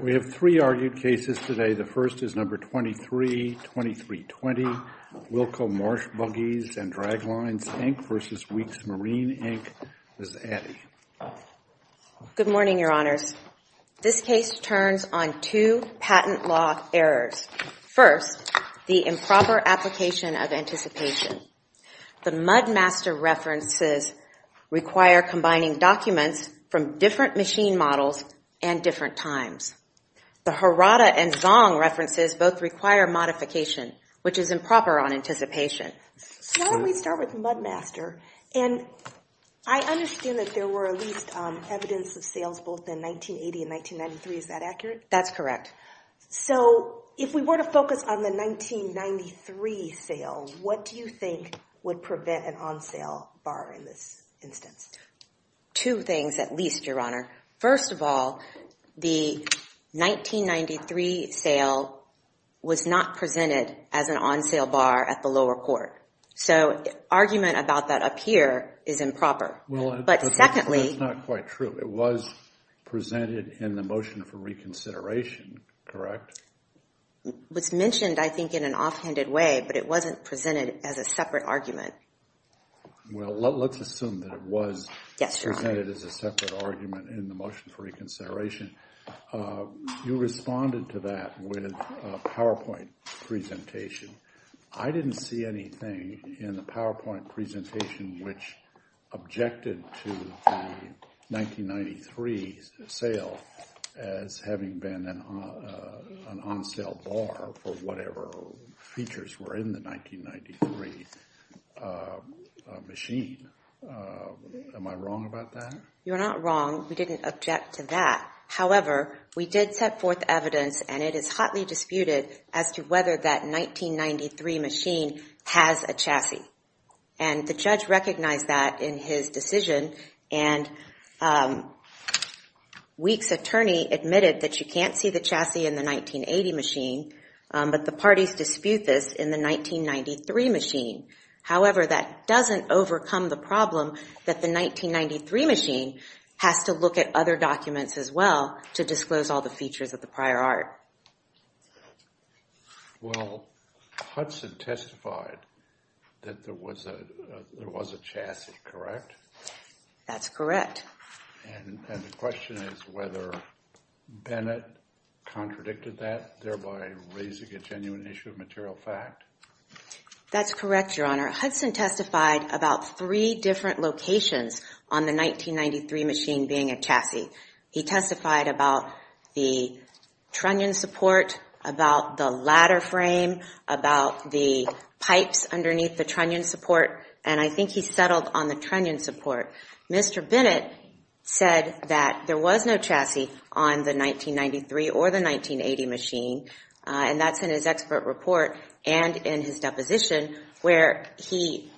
We have three argued cases today. The first is number 232320, Wilco Marsh Buggies and Draglines, Inc. v. Weeks Marine, Inc. Ms. Addy. Good morning, Your Honors. This case turns on two patent law errors. First, the improper application of anticipation. The Mudmaster references require combining documents from different machine models and different times. The Harada and Zong references both require modification, which is improper on anticipation. So why don't we start with Mudmaster? And I understand that there were at least evidence of sales both in 1980 and 1993. Is that accurate? That's correct. So, if we were to focus on the 1993 sale, what do you think would prevent an on-sale bar in this instance? Two things at least, Your Honor. First of all, the 1993 sale was not presented as an on-sale bar at the lower court. So argument about that up here is improper. But secondly... That's not quite true. It was presented in the motion for reconsideration, correct? It was mentioned, I think, in an offhanded way, but it wasn't presented as a separate argument. Well, let's assume that it was presented as a separate argument in the motion for reconsideration. You responded to that with a PowerPoint presentation. I didn't see anything in the PowerPoint presentation which objected to the 1993 sale as having been an on-sale bar for whatever features were in the 1993 machine. Am I wrong about that? You're not wrong. We didn't object to that. However, we did set forth evidence and it is hotly disputed as to whether that 1993 machine has a chassis. And the judge recognized that in his decision. And Weeks' attorney admitted that you can't see the chassis in the 1980 machine, but the parties dispute this in the 1993 machine. However, that doesn't overcome the problem that the 1993 machine has to look at other documents as well to disclose all the features of the prior art. Well, Hudson testified that there was a chassis, correct? That's correct. And the question is whether Bennett contradicted that, thereby raising a genuine issue of material fact? That's correct, Your Honor. Hudson testified about three different locations on the 1993 machine being a chassis. He testified about the trunnion support, about the ladder frame, about the pipes underneath the trunnion support, and I think he settled on the trunnion support. Mr. Bennett said that there was no chassis on the 1993 or the 1980 machine, and that's in his expert report and in his deposition where he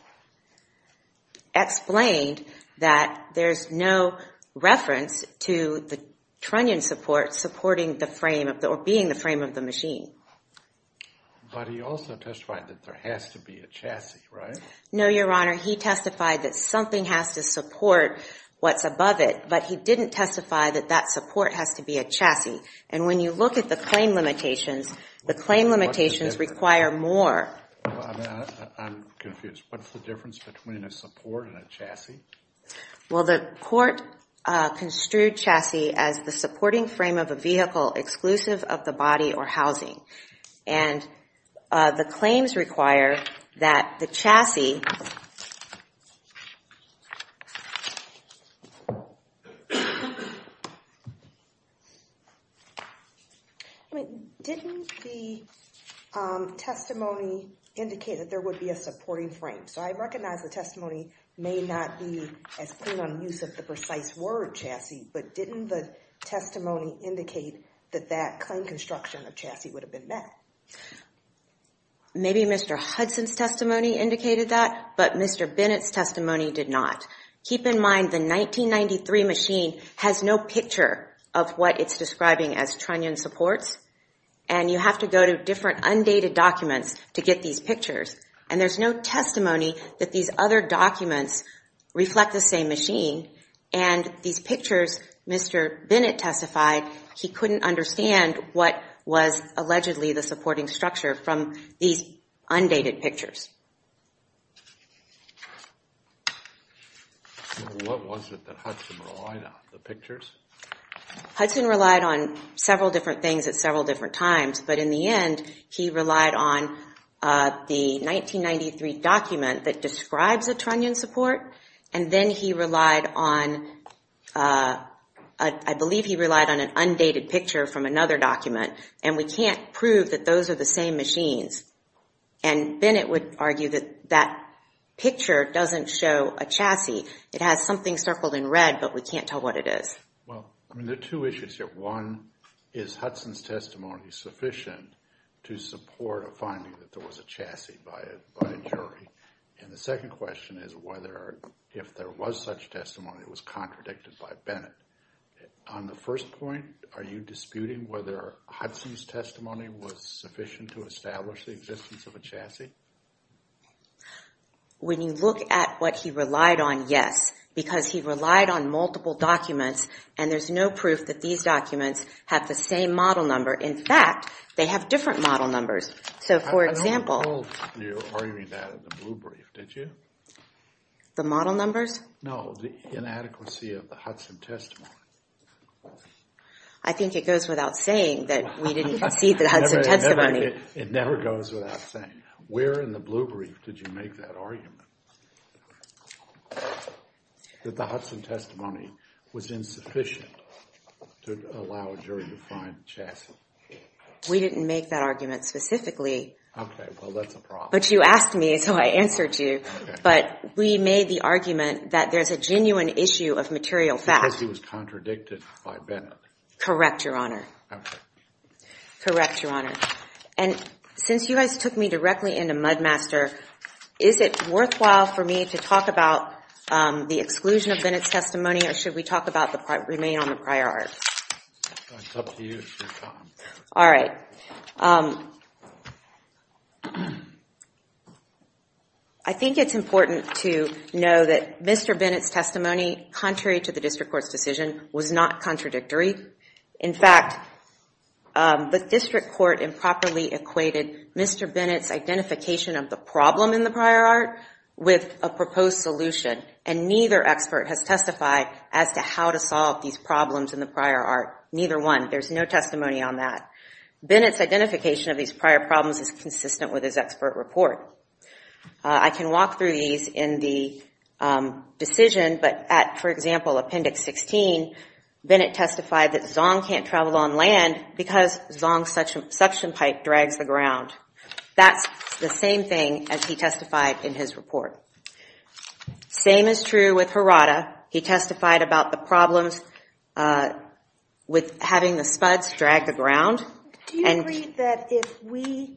explained that there's no reference to the trunnion support being the frame of the machine. But he also testified that there has to be a chassis, right? No, Your Honor. He testified that something has to support what's above it, but he didn't testify that that support has to be a chassis. And when you look at the claim limitations, the claim limitations require more. I'm confused. What's the difference between a support and a chassis? Well, the court construed chassis as the supporting frame of a vehicle exclusive of the body or housing. And the claims require that the chassis... Didn't the testimony indicate that there would be a supporting frame? So I recognize the testimony may not be as clean on the use of the precise word chassis, but didn't the testimony indicate that that claim construction of chassis would have been met? Maybe Mr. Hudson's testimony indicated that, but Mr. Bennett's testimony did not. Keep in mind the 1993 machine has no picture of what it's describing as trunnion supports, and you have to go to different undated documents to get these pictures. And there's no testimony that these other documents reflect the same machine, and these pictures, Mr. Bennett testified, he couldn't understand what was allegedly the supporting structure from these undated pictures. What was it that Hudson relied on, the pictures? Hudson relied on several different things at several different times, but in the end, he relied on the 1993 document that describes a trunnion support, and then he relied on, I believe he relied on an undated picture from another document. And we can't prove that those are the same machines. And Bennett would argue that that picture doesn't show a chassis. It has something circled in red, but we can't tell what it is. Well, I mean, there are two issues here. One, is Hudson's testimony sufficient to support a finding that there was a chassis by a jury? And the second question is whether, if there was such testimony, it was contradicted by Bennett. On the first point, are you disputing whether Hudson's testimony was sufficient to establish the existence of a chassis? When you look at what he relied on, yes, because he relied on multiple documents, and there's no proof that these documents have the same model number. In fact, they have different model numbers. So, for example... I don't recall you arguing that in the blue brief, did you? The model numbers? No, the inadequacy of the Hudson testimony. I think it goes without saying that we didn't concede the Hudson testimony. It never goes without saying. Where in the blue brief did you make that argument? That the Hudson testimony was insufficient to allow a jury to find a chassis? We didn't make that argument specifically. Okay, well, that's a problem. But you asked me, so I answered you. But we made the argument that there's a genuine issue of material facts. Because he was contradicted by Bennett. Correct, Your Honor. Okay. Correct, Your Honor. And since you guys took me directly into Mudmaster, is it worthwhile for me to talk about the exclusion of Bennett's testimony, or should we talk about the remain on the prior art? It's up to you, Your Honor. All right. I think it's important to know that Mr. Bennett's testimony, contrary to the district court's decision, was not contradictory. In fact, the district court improperly equated Mr. Bennett's identification of the problem in the prior art with a proposed solution. And neither expert has testified as to how to solve these problems in the prior art. Neither one. There's no testimony on that. Bennett's identification of these prior problems is consistent with his expert report. I can walk through these in the decision, but at, for example, Appendix 16, Bennett testified that Zong can't travel on land because Zong's suction pipe drags the ground. That's the same thing as he testified in his report. Same is true with Harada. He testified about the problems with having the spuds drag the ground. Do you agree that if we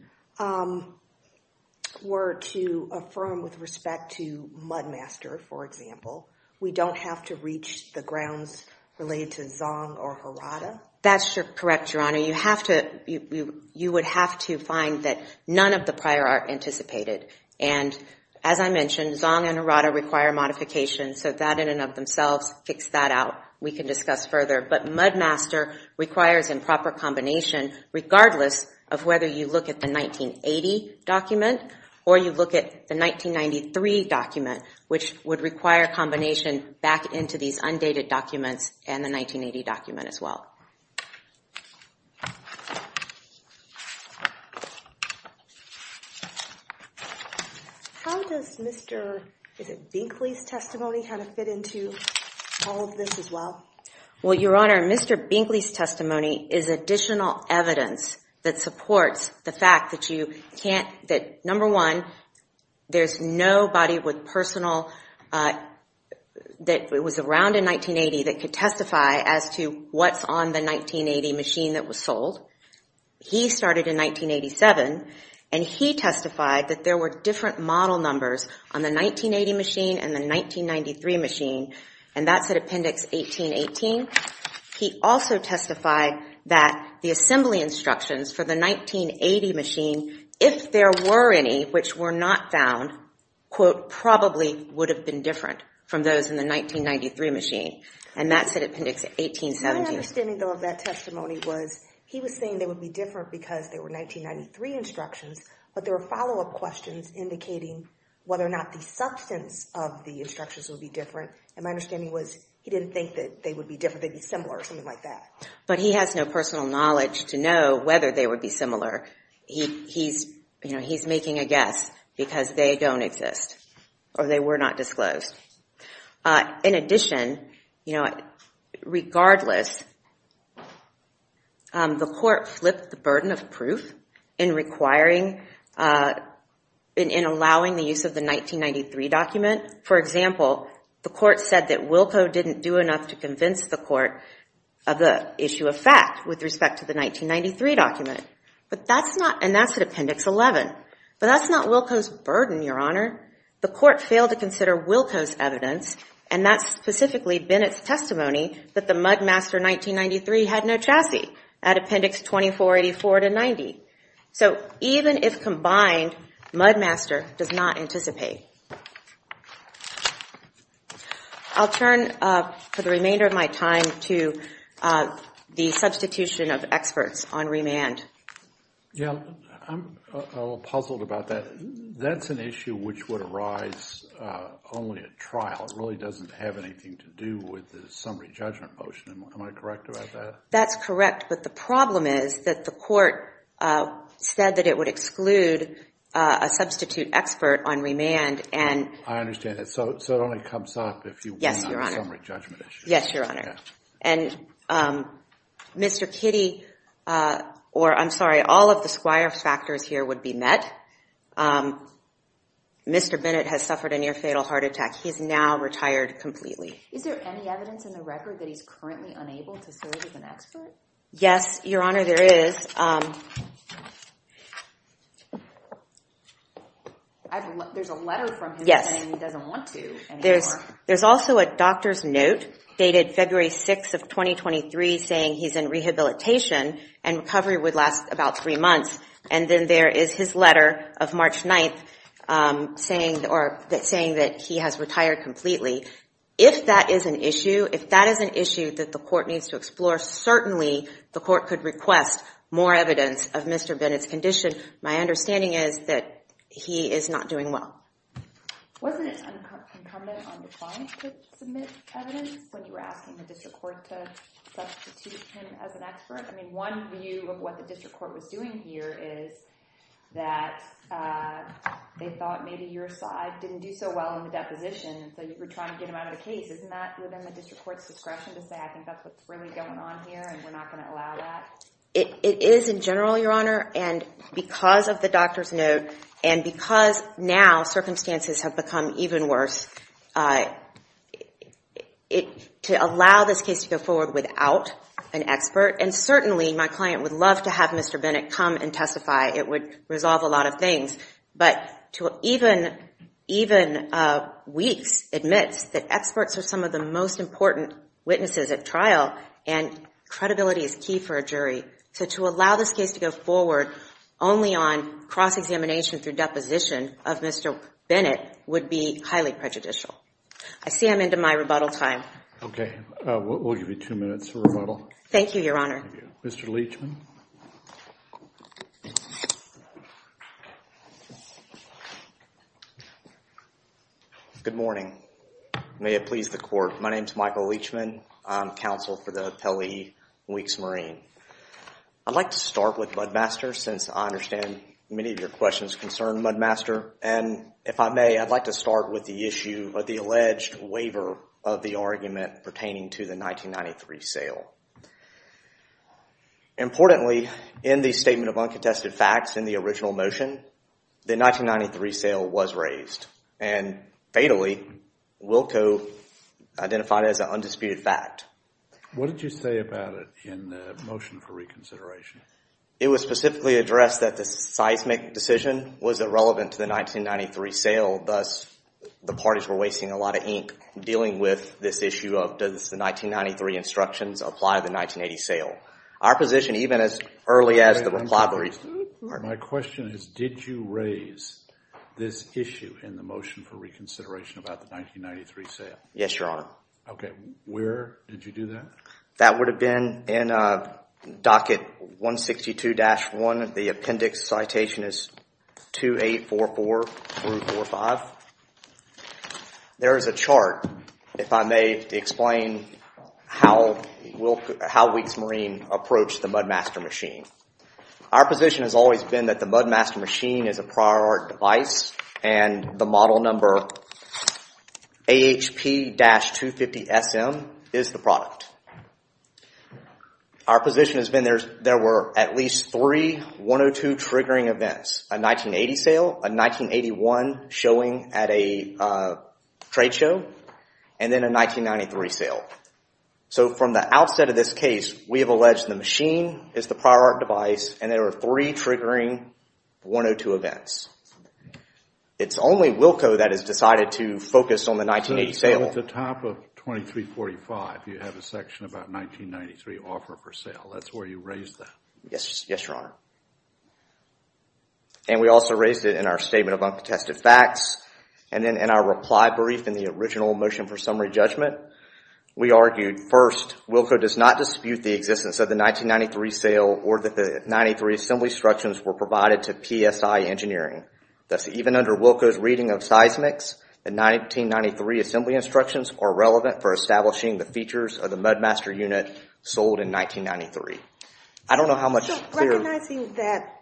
were to affirm with respect to Mudmaster, for example, we don't have to reach the grounds related to Zong or Harada? That's correct, Your Honor. You would have to find that none of the prior art anticipated. And as I mentioned, Zong and Harada require modification, so that in and of themselves kicks that out. We can discuss further. But Mudmaster requires improper combination, regardless of whether you look at the 1980 document or you look at the 1993 document, which would require combination back into these undated documents and the 1980 document as well. How does Mr. Binkley's testimony fit into all of this as well? Well, Your Honor, Mr. Binkley's testimony is additional evidence that supports the fact that you can't, that number one, there's nobody with personal, that was around in 1980 that could testify as to what's on the 1980 machine that was sold. He started in 1987 and he testified that there were different model numbers on the 1980 machine and the 1993 machine, and that's at Appendix 1818. He also testified that the assembly instructions for the 1980 machine, if there were any which were not found, quote, probably would have been different from those in the 1993 machine, and that's at Appendix 1817. My understanding, though, of that testimony was he was saying they would be different because they were 1993 instructions, but there were follow-up questions indicating whether or not the substance of the instructions would be different, and my understanding was he didn't think that they would be different, they'd be similar or something like that. But he has no personal knowledge to know whether they would be similar. He's making a guess because they don't exist or they were not disclosed. In addition, regardless, the court flipped the burden of proof in requiring, in allowing the use of the 1993 document. For example, the court said that Wilco didn't do enough to convince the court of the issue of fact with respect to the 1993 document, and that's at Appendix 11. But that's not Wilco's burden, Your Honor. The court failed to consider Wilco's evidence, and that's specifically Bennett's testimony that the Mudmaster 1993 had no chassis at Appendix 2484 to 90. So even if combined, Mudmaster does not anticipate. I'll turn for the remainder of my time to the substitution of experts on remand. Yeah, I'm a little puzzled about that. That's an issue which would arise only at trial. It really doesn't have anything to do with the summary judgment motion. Am I correct about that? That's correct, but the problem is that the court said that it would exclude a substitute expert on remand and- I understand that. So it only comes up if you- Yes, Your Honor. Yes, Your Honor. And Mr. Kitty, or I'm sorry, all of the squire factors here would be met. Mr. Bennett has suffered a near fatal heart attack. He's now retired completely. Is there any evidence in the record that he's currently unable to serve as an expert? Yes, Your Honor, there is. There's a letter from him saying he doesn't want to anymore. There's also a doctor's note dated February 6th of 2023 saying he's in rehabilitation and recovery would last about three months. And then there is his letter of March 9th saying that he has retired completely. If that is an issue, if that is an issue that the court needs to explore, certainly the court could request more evidence of Mr. Bennett's condition. My understanding is that he is not doing well. Wasn't it incumbent on the client to submit evidence when you were asking the district court to substitute him as an expert? I mean, one view of what the district court was doing here is that they thought maybe your side didn't do so well in the deposition, so you were trying to get him out of the case. Isn't that within the district court's discretion to say, I think that's what's really going on here and we're not going to allow that? It is in general, Your Honor, and because of the doctor's note and because now circumstances have become even worse, to allow this case to go forward without an expert, and certainly my client would love to have Mr. Bennett come and testify. It would resolve a lot of things. But to even Weeks admits that experts are some of the most important witnesses at trial and credibility is key for a jury, so to allow this case to go forward only on cross-examination through deposition of Mr. Bennett would be highly prejudicial. I see I'm into my rebuttal time. Okay. We'll give you two minutes for rebuttal. Thank you, Your Honor. Thank you. Mr. Leachman? Good morning. May it please the court. My name's Michael Leachman. I'm counsel for the appellee, Weeks Marine. I'd like to start with Mudmaster since I understand many of your questions concern Mudmaster. And if I may, I'd like to start with the issue of the alleged waiver of the argument pertaining to the 1993 sale. Importantly, in the Statement of Uncontested Facts, in the original motion, the 1993 sale was raised. And fatally, Wilco identified it as an undisputed fact. What did you say about it in the motion for reconsideration? It was specifically addressed that the seismic decision was irrelevant to the 1993 sale, thus the parties were wasting a lot of ink dealing with this issue of does the 1993 instructions apply to the 1980 sale? Our position, even as early as the reply to the... My question is, did you raise this issue in the motion for reconsideration about the 1993 sale? Yes, Your Honor. Okay. Where did you do that? That would have been in Docket 162-1. The appendix citation is 2844-45. There is a chart, if I may, to explain how Weeks Marine approached the Mudmaster machine. Our position has always been that the Mudmaster machine is a prior art device and the model number AHP-250SM is the product. Our position has been there were at least three 102 triggering events. A 1980 sale, a 1981 showing at a trade show, and then a 1993 sale. So from the outset of this case, we have alleged the machine is the prior art device and there were three triggering 102 events. It's only Wilco that has decided to focus on the 1980 sale. So at the top of 2345, you have a section about 1993 offer for sale. That's where you raised that. Yes, Your Honor. And we also raised it in our Statement of Uncontested Facts and then in our reply brief in the original motion for summary judgment. We argued, first, Wilco does not dispute the existence of the 1993 sale or that the 1993 assembly instructions were provided to PSI Engineering. Thus, even under Wilco's reading of seismics, the 1993 assembly instructions are relevant for establishing the features of the Mudmaster unit sold in 1993. I don't know how much is clear. So recognizing that,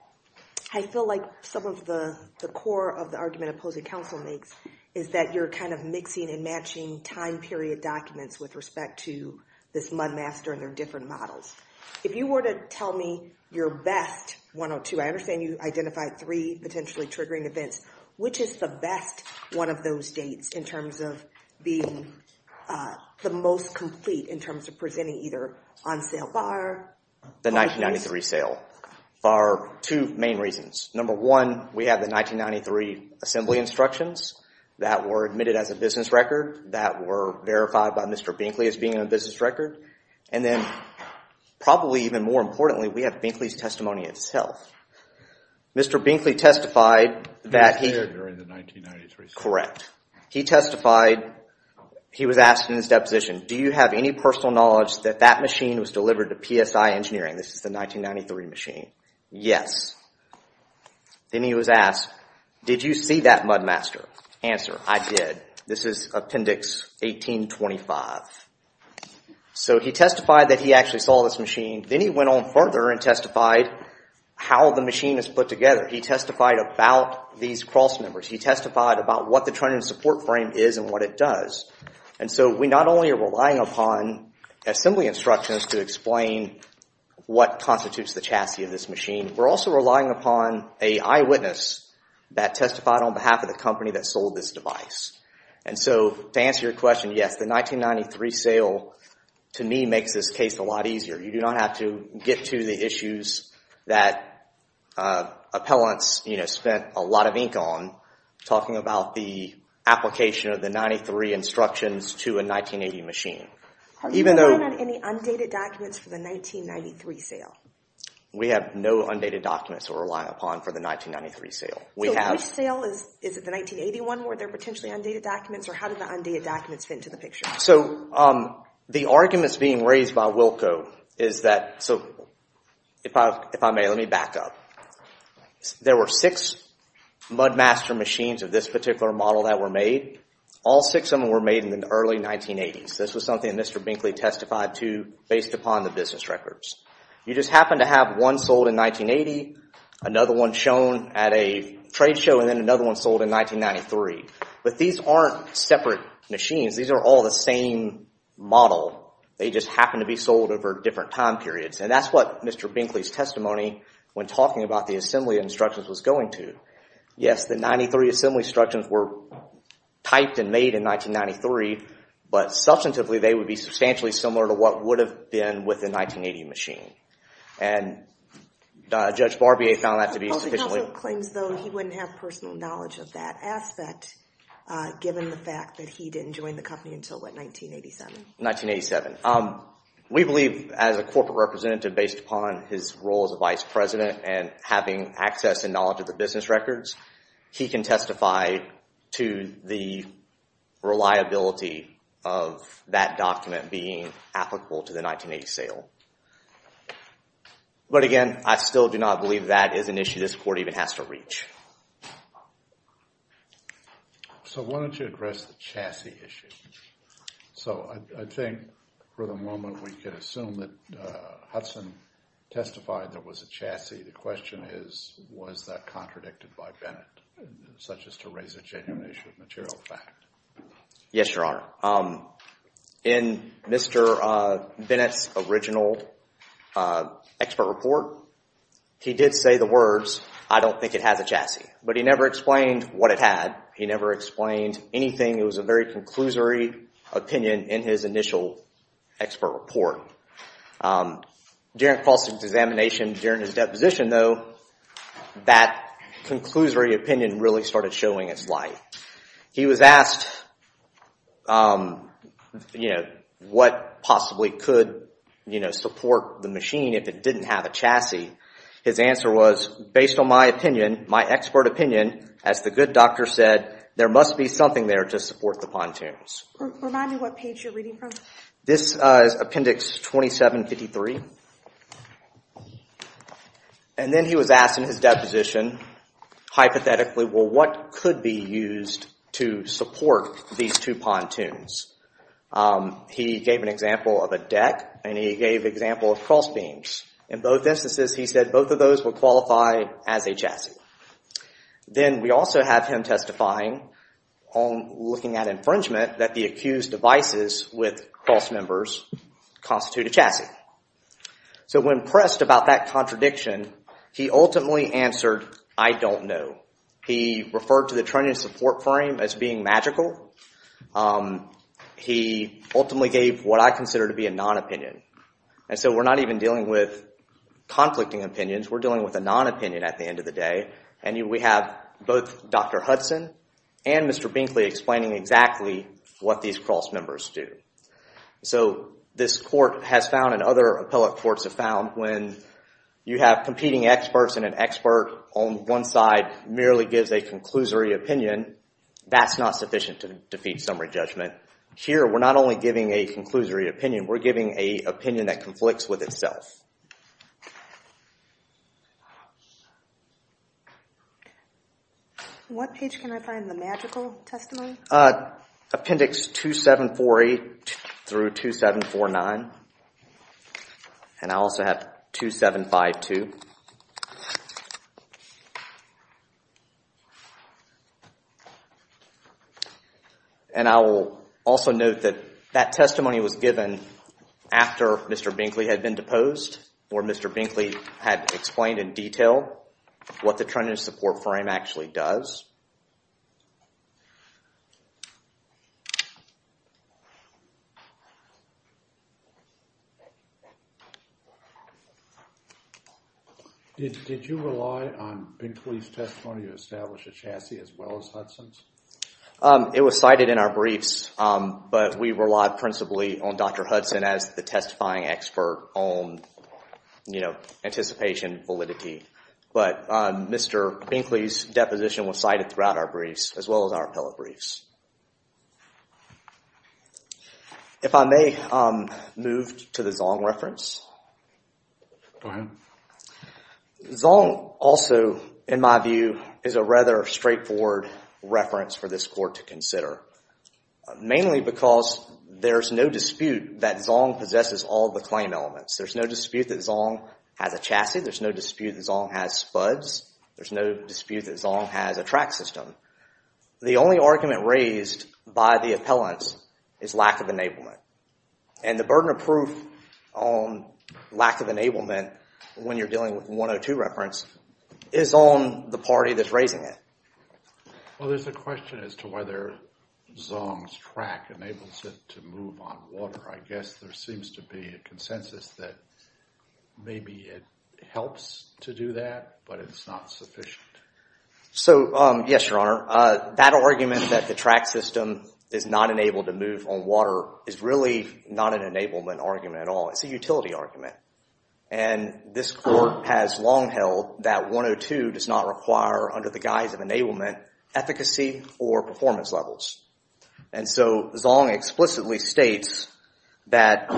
I feel like some of the core of the argument opposing counsel makes is that you're kind of mixing and matching time period documents with respect to this Mudmaster and their different models. If you were to tell me your best 102, I understand you identified three potentially triggering events. Which is the best one of those dates in terms of being the most complete in terms of presenting either on sale bar or... The 1993 sale bar. Two main reasons. Number one, we have the 1993 assembly instructions that were admitted as a business record that were verified by Mr. Binkley as being a business record. And then, probably even more importantly, we have Binkley's testimony itself. Mr. Binkley testified that he... He was there during the 1993 sale. Correct. He testified, he was asked in his deposition, do you have any personal knowledge that that machine was delivered to PSI Engineering? This is the 1993 machine. Yes. Then he was asked, did you see that Mudmaster? Answer, I did. This is appendix 1825. So he testified that he actually saw this machine. Then he went on further and testified how the machine is put together. He testified about these cross members. He testified about what the training and support frame is and what it does. And so, we not only are relying upon assembly instructions to explain what constitutes the chassis of this machine, we're also relying upon an eyewitness that testified on behalf of the company that sold this device. And so, to answer your question, yes, the 1993 sale, to me, makes this case a lot easier. You do not have to get to the issues that appellants spent a lot of ink on, talking about the application of the 93 instructions to a 1980 machine. Even though... Are you relying on any undated documents for the 1993 sale? We have no undated documents to rely upon for the 1993 sale. We have... So, which sale? Is it the 1981 where they're potentially undated documents, or how did the undated documents fit into the picture? So, the arguments being raised by Wilco is that, so, if I may, let me back up. There were six Mudmaster machines of this particular model that were made. All six of them were made in the early 1980s. This was something that Mr. Binkley testified to, based upon the business records. You just happen to have one sold in 1980, another one shown at a trade show, and then another one sold in 1993. But these aren't separate machines. These are all the same model. They just happen to be sold over different time periods, and that's what Mr. Binkley's thought the assembly instructions was going to. Yes, the 93 assembly instructions were typed and made in 1993, but substantively, they would be substantially similar to what would have been with the 1980 machine. And Judge Barbier found that to be sufficiently... He also claims, though, he wouldn't have personal knowledge of that aspect, given the fact that he didn't join the company until, what, 1987? 1987. We believe, as a corporate representative, based upon his role as a vice president and having access and knowledge of the business records, he can testify to the reliability of that document being applicable to the 1980 sale. But again, I still do not believe that is an issue this court even has to reach. So why don't you address the chassis issue? So I think, for the moment, we can assume that Hudson testified there was a chassis. The question is, was that contradicted by Bennett, such as to raise a genuine issue of material fact? Yes, Your Honor. In Mr. Bennett's original expert report, he did say the words, I don't think it has a But he never explained what it had. He never explained anything. It was a very conclusory opinion in his initial expert report. During false examination, during his deposition, though, that conclusory opinion really started showing its light. He was asked what possibly could support the machine if it didn't have a chassis. His answer was, based on my opinion, my expert opinion, as the good doctor said, there must be something there to support the pontoons. Remind me what page you're reading from. This is Appendix 2753. And then he was asked in his deposition, hypothetically, what could be used to support these two pontoons. He gave an example of a deck, and he gave an example of cross beams. In both instances, he said both of those would qualify as a chassis. Then we also have him testifying on looking at infringement, that the accused devices with cross members constitute a chassis. So when pressed about that contradiction, he ultimately answered, I don't know. He referred to the trunnion support frame as being magical. He ultimately gave what I consider to be a non-opinion. And so we're not even dealing with conflicting opinions, we're dealing with a non-opinion at the end of the day. And we have both Dr. Hudson and Mr. Binkley explaining exactly what these cross members do. So this court has found, and other appellate courts have found, when you have competing experts and an expert on one side merely gives a conclusory opinion, that's not sufficient to defeat summary judgment. Here we're not only giving a conclusory opinion, we're giving an opinion that conflicts with itself. What page can I find the magical testimony? Appendix 2748 through 2749. And I also have 2752. And I will also note that that testimony was given after Mr. Binkley had been deposed, or Mr. Binkley had explained in detail what the trunnion support frame actually does. Did you rely on Binkley's testimony to establish a chassis as well as Hudson's? It was cited in our briefs, but we relied principally on Dr. Hudson as the testifying expert on anticipation validity. But Mr. Binkley's deposition was cited throughout our briefs, as well as our appellate briefs. If I may move to the Zong reference, Zong also, in my view, is a rather straightforward reference for this court to consider. Mainly because there's no dispute that Zong possesses all the claim elements. There's no dispute that Zong has a chassis. There's no dispute that Zong has spuds. There's no dispute that Zong has a track system. The only argument raised by the appellants is lack of enablement. And the burden of proof on lack of enablement when you're dealing with the 102 reference is on the party that's raising it. Well, there's a question as to whether Zong's track enables it to move on water. I guess there seems to be a consensus that maybe it helps to do that, but it's not sufficient. So yes, your honor. That argument that the track system is not enabled to move on water is really not an enablement argument at all. It's a utility argument. And this court has long held that 102 does not require, under the guise of enablement, efficacy or performance levels. And so, Zong explicitly states that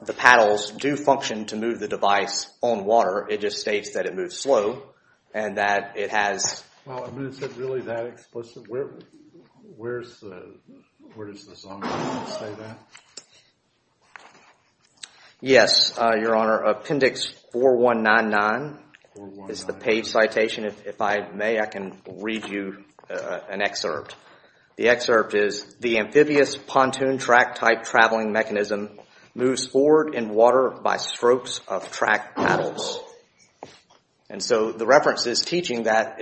the paddles do function to move the device on water. It just states that it moves slow and that it has... Well, is it really that explicit? Where does the Zong statement say that? Yes, your honor. Appendix 4199 is the page citation. If I may, I can read you an excerpt. The excerpt is, the amphibious pontoon track type traveling mechanism moves forward in water by strokes of track paddles. And so, the reference is teaching that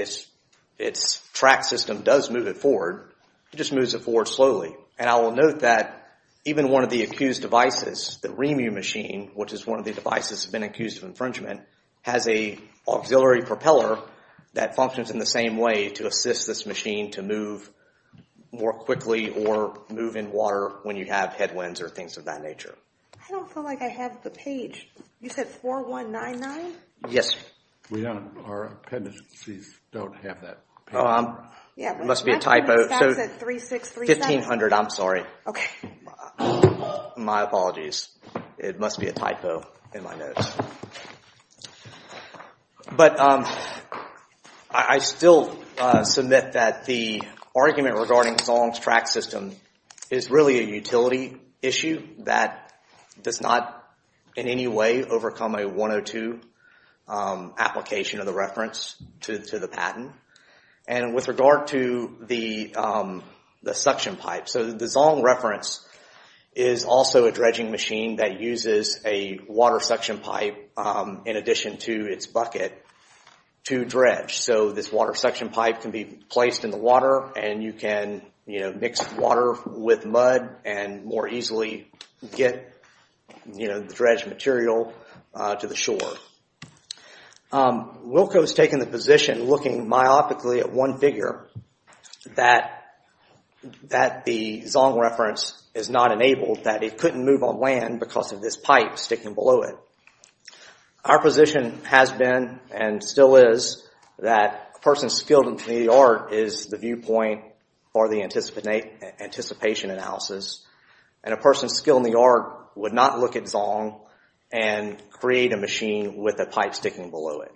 its track system does move it forward, it just moves it forward slowly. And I will note that even one of the accused devices, the REMU machine, which is one of the devices that have been accused of infringement, has an auxiliary propeller that functions in the same way to assist this machine to move more quickly or move in water when you have headwinds or things of that nature. I don't feel like I have the page. You said 4199? Yes. We don't. Our appendices don't have that page. It must be a typo. Yeah, my appendix stacks at 3636. 1500, I'm sorry. Okay. My apologies. It must be a typo in my notes. But, I still submit that the argument regarding Zong's track system is really a utility issue that does not in any way overcome a 102 application of the reference to the patent. And with regard to the suction pipe, so the Zong reference is also a dredging machine that uses a water suction pipe in addition to its bucket to dredge. So this water suction pipe can be placed in the water and you can mix water with mud and more easily get the dredged material to the shore. Wilco has taken the position, looking myopically at one figure, that the Zong reference is not enabled, that it couldn't move on land because of this pipe sticking below it. Our position has been and still is that a person skilled in the art is the viewpoint for the anticipation analysis and a person skilled in the art would not look at Zong and create a machine with a pipe sticking below it.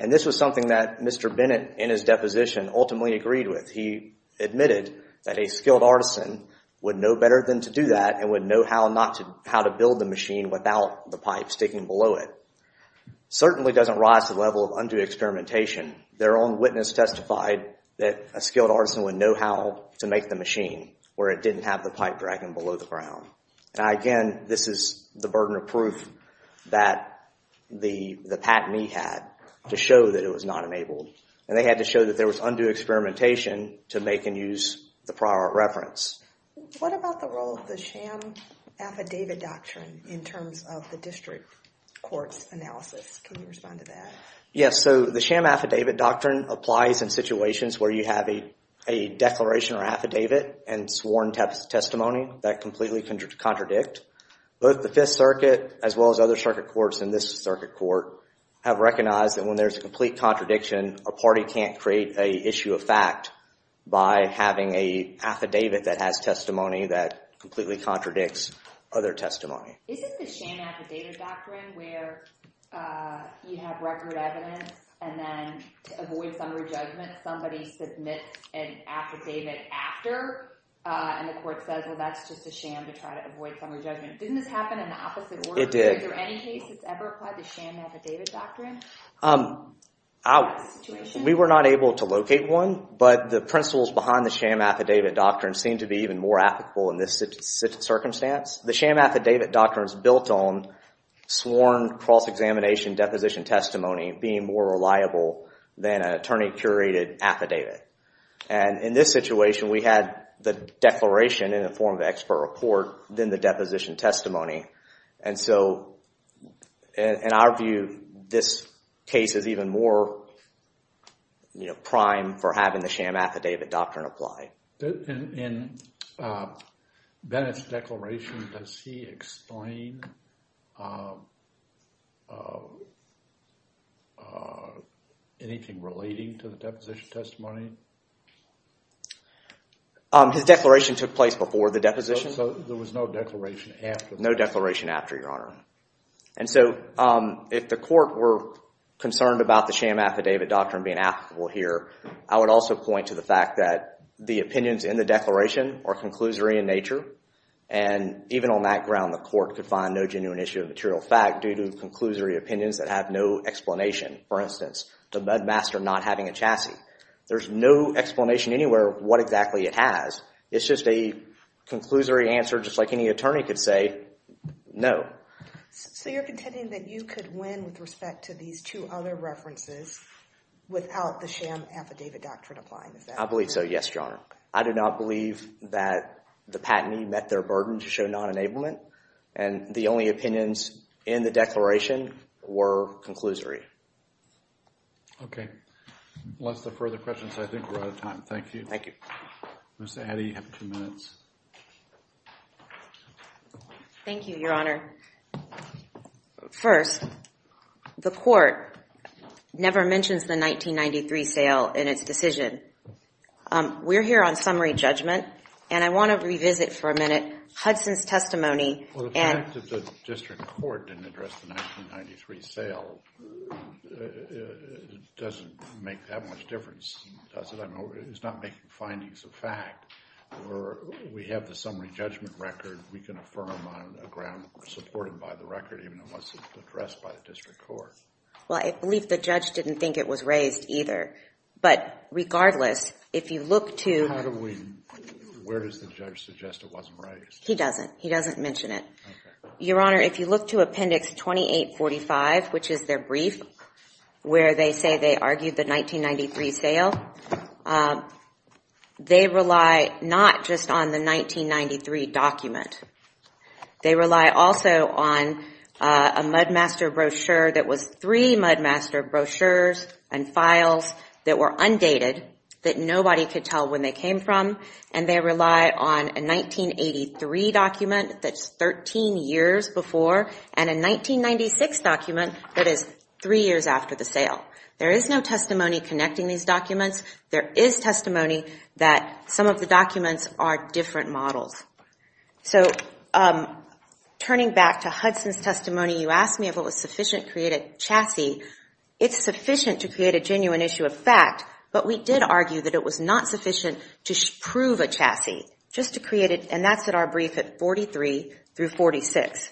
And this was something that Mr. Bennett in his deposition ultimately agreed with. He admitted that a skilled artisan would know better than to do that and would know how to build the machine without the pipe sticking below it. Certainly doesn't rise to the level of undue experimentation. Their own witness testified that a skilled artisan would know how to make the machine where it didn't have the pipe dragging below the ground. Again, this is the burden of proof that the patentee had to show that it was not enabled. And they had to show that there was undue experimentation to make and use the prior art reference. What about the role of the sham affidavit doctrine in terms of the district court's analysis? Can you respond to that? Yes. So the sham affidavit doctrine applies in situations where you have a declaration or affidavit and sworn testimony that completely contradict. Both the Fifth Circuit as well as other circuit courts and this circuit court have recognized that when there's a complete contradiction, a party can't create a issue of fact by having a affidavit that has testimony that completely contradicts other testimony. Isn't the sham affidavit doctrine where you have record evidence and then to avoid summary judgment, somebody submits an affidavit after and the court says, well, that's just a sham to try to avoid summary judgment. Didn't this happen in the opposite order? It did. Is there any case that's ever applied the sham affidavit doctrine? We were not able to locate one, but the principles behind the sham affidavit doctrine seem to be even more applicable in this circumstance. The sham affidavit doctrine is built on sworn cross-examination deposition testimony being more reliable than an attorney-curated affidavit. And in this situation, we had the declaration in the form of expert report than the deposition testimony. And so, in our view, this case is even more, you know, prime for having the sham affidavit doctrine apply. In Bennett's declaration, does he explain anything relating to the deposition testimony? His declaration took place before the deposition. So there was no declaration after? There was no declaration after, Your Honor. And so if the court were concerned about the sham affidavit doctrine being applicable here, I would also point to the fact that the opinions in the declaration are conclusory in nature. And even on that ground, the court could find no genuine issue of material fact due to conclusory opinions that have no explanation. For instance, the mud master not having a chassis. There's no explanation anywhere what exactly it has. It's just a conclusory answer, just like any attorney could say, no. So you're contending that you could win with respect to these two other references without the sham affidavit doctrine applying? I believe so, yes, Your Honor. I do not believe that the patentee met their burden to show non-enablement. And the only opinions in the declaration were conclusory. OK. Unless there are further questions, I think we're out of time. Thank you. Thank you. Ms. Addy, you have two minutes. Thank you, Your Honor. First, the court never mentions the 1993 sale in its decision. We're here on summary judgment. And I want to revisit for a minute Hudson's testimony. Well, the fact that the district court didn't address the 1993 sale doesn't make that much difference, does it? It's not making findings of fact. We have the summary judgment record. We can affirm on a ground supported by the record, even if it wasn't addressed by the district court. Well, I believe the judge didn't think it was raised either. But regardless, if you look to- How do we- Where does the judge suggest it wasn't raised? He doesn't. He doesn't mention it. Your Honor, if you look to appendix 2845, which is their brief, where they say they argued the 1993 sale, they rely not just on the 1993 document. They rely also on a Mudmaster brochure that was three Mudmaster brochures and files that were undated that nobody could tell when they came from. And they rely on a 1983 document that's 13 years before and a 1996 document that is three years after the sale. There is no testimony connecting these documents. There is testimony that some of the documents are different models. So, turning back to Hudson's testimony, you asked me if it was sufficient to create a chassis. It's sufficient to create a genuine issue of fact, but we did argue that it was not sufficient to prove a chassis, just to create it, and that's in our brief at 43 through 46.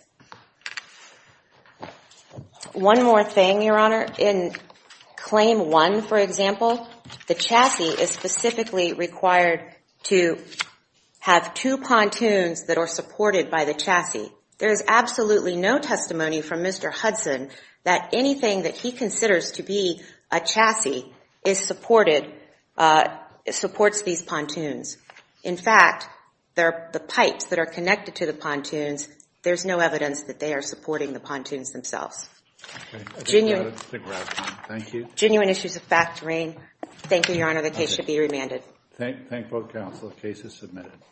One more thing, Your Honor. In claim one, for example, the chassis is specifically required to have two pontoons that are supported by the chassis. There is absolutely no testimony from Mr. Hudson that anything that he considers to be a chassis is supported, supports these pontoons. In fact, the pipes that are connected to the pontoons, there's no evidence that they are supporting the pontoons themselves. Okay, I think that's a good wrap-up. Thank you. Genuine issues of fact reign. Thank you, Your Honor. The case should be remanded. Thank both counsel. The case is submitted.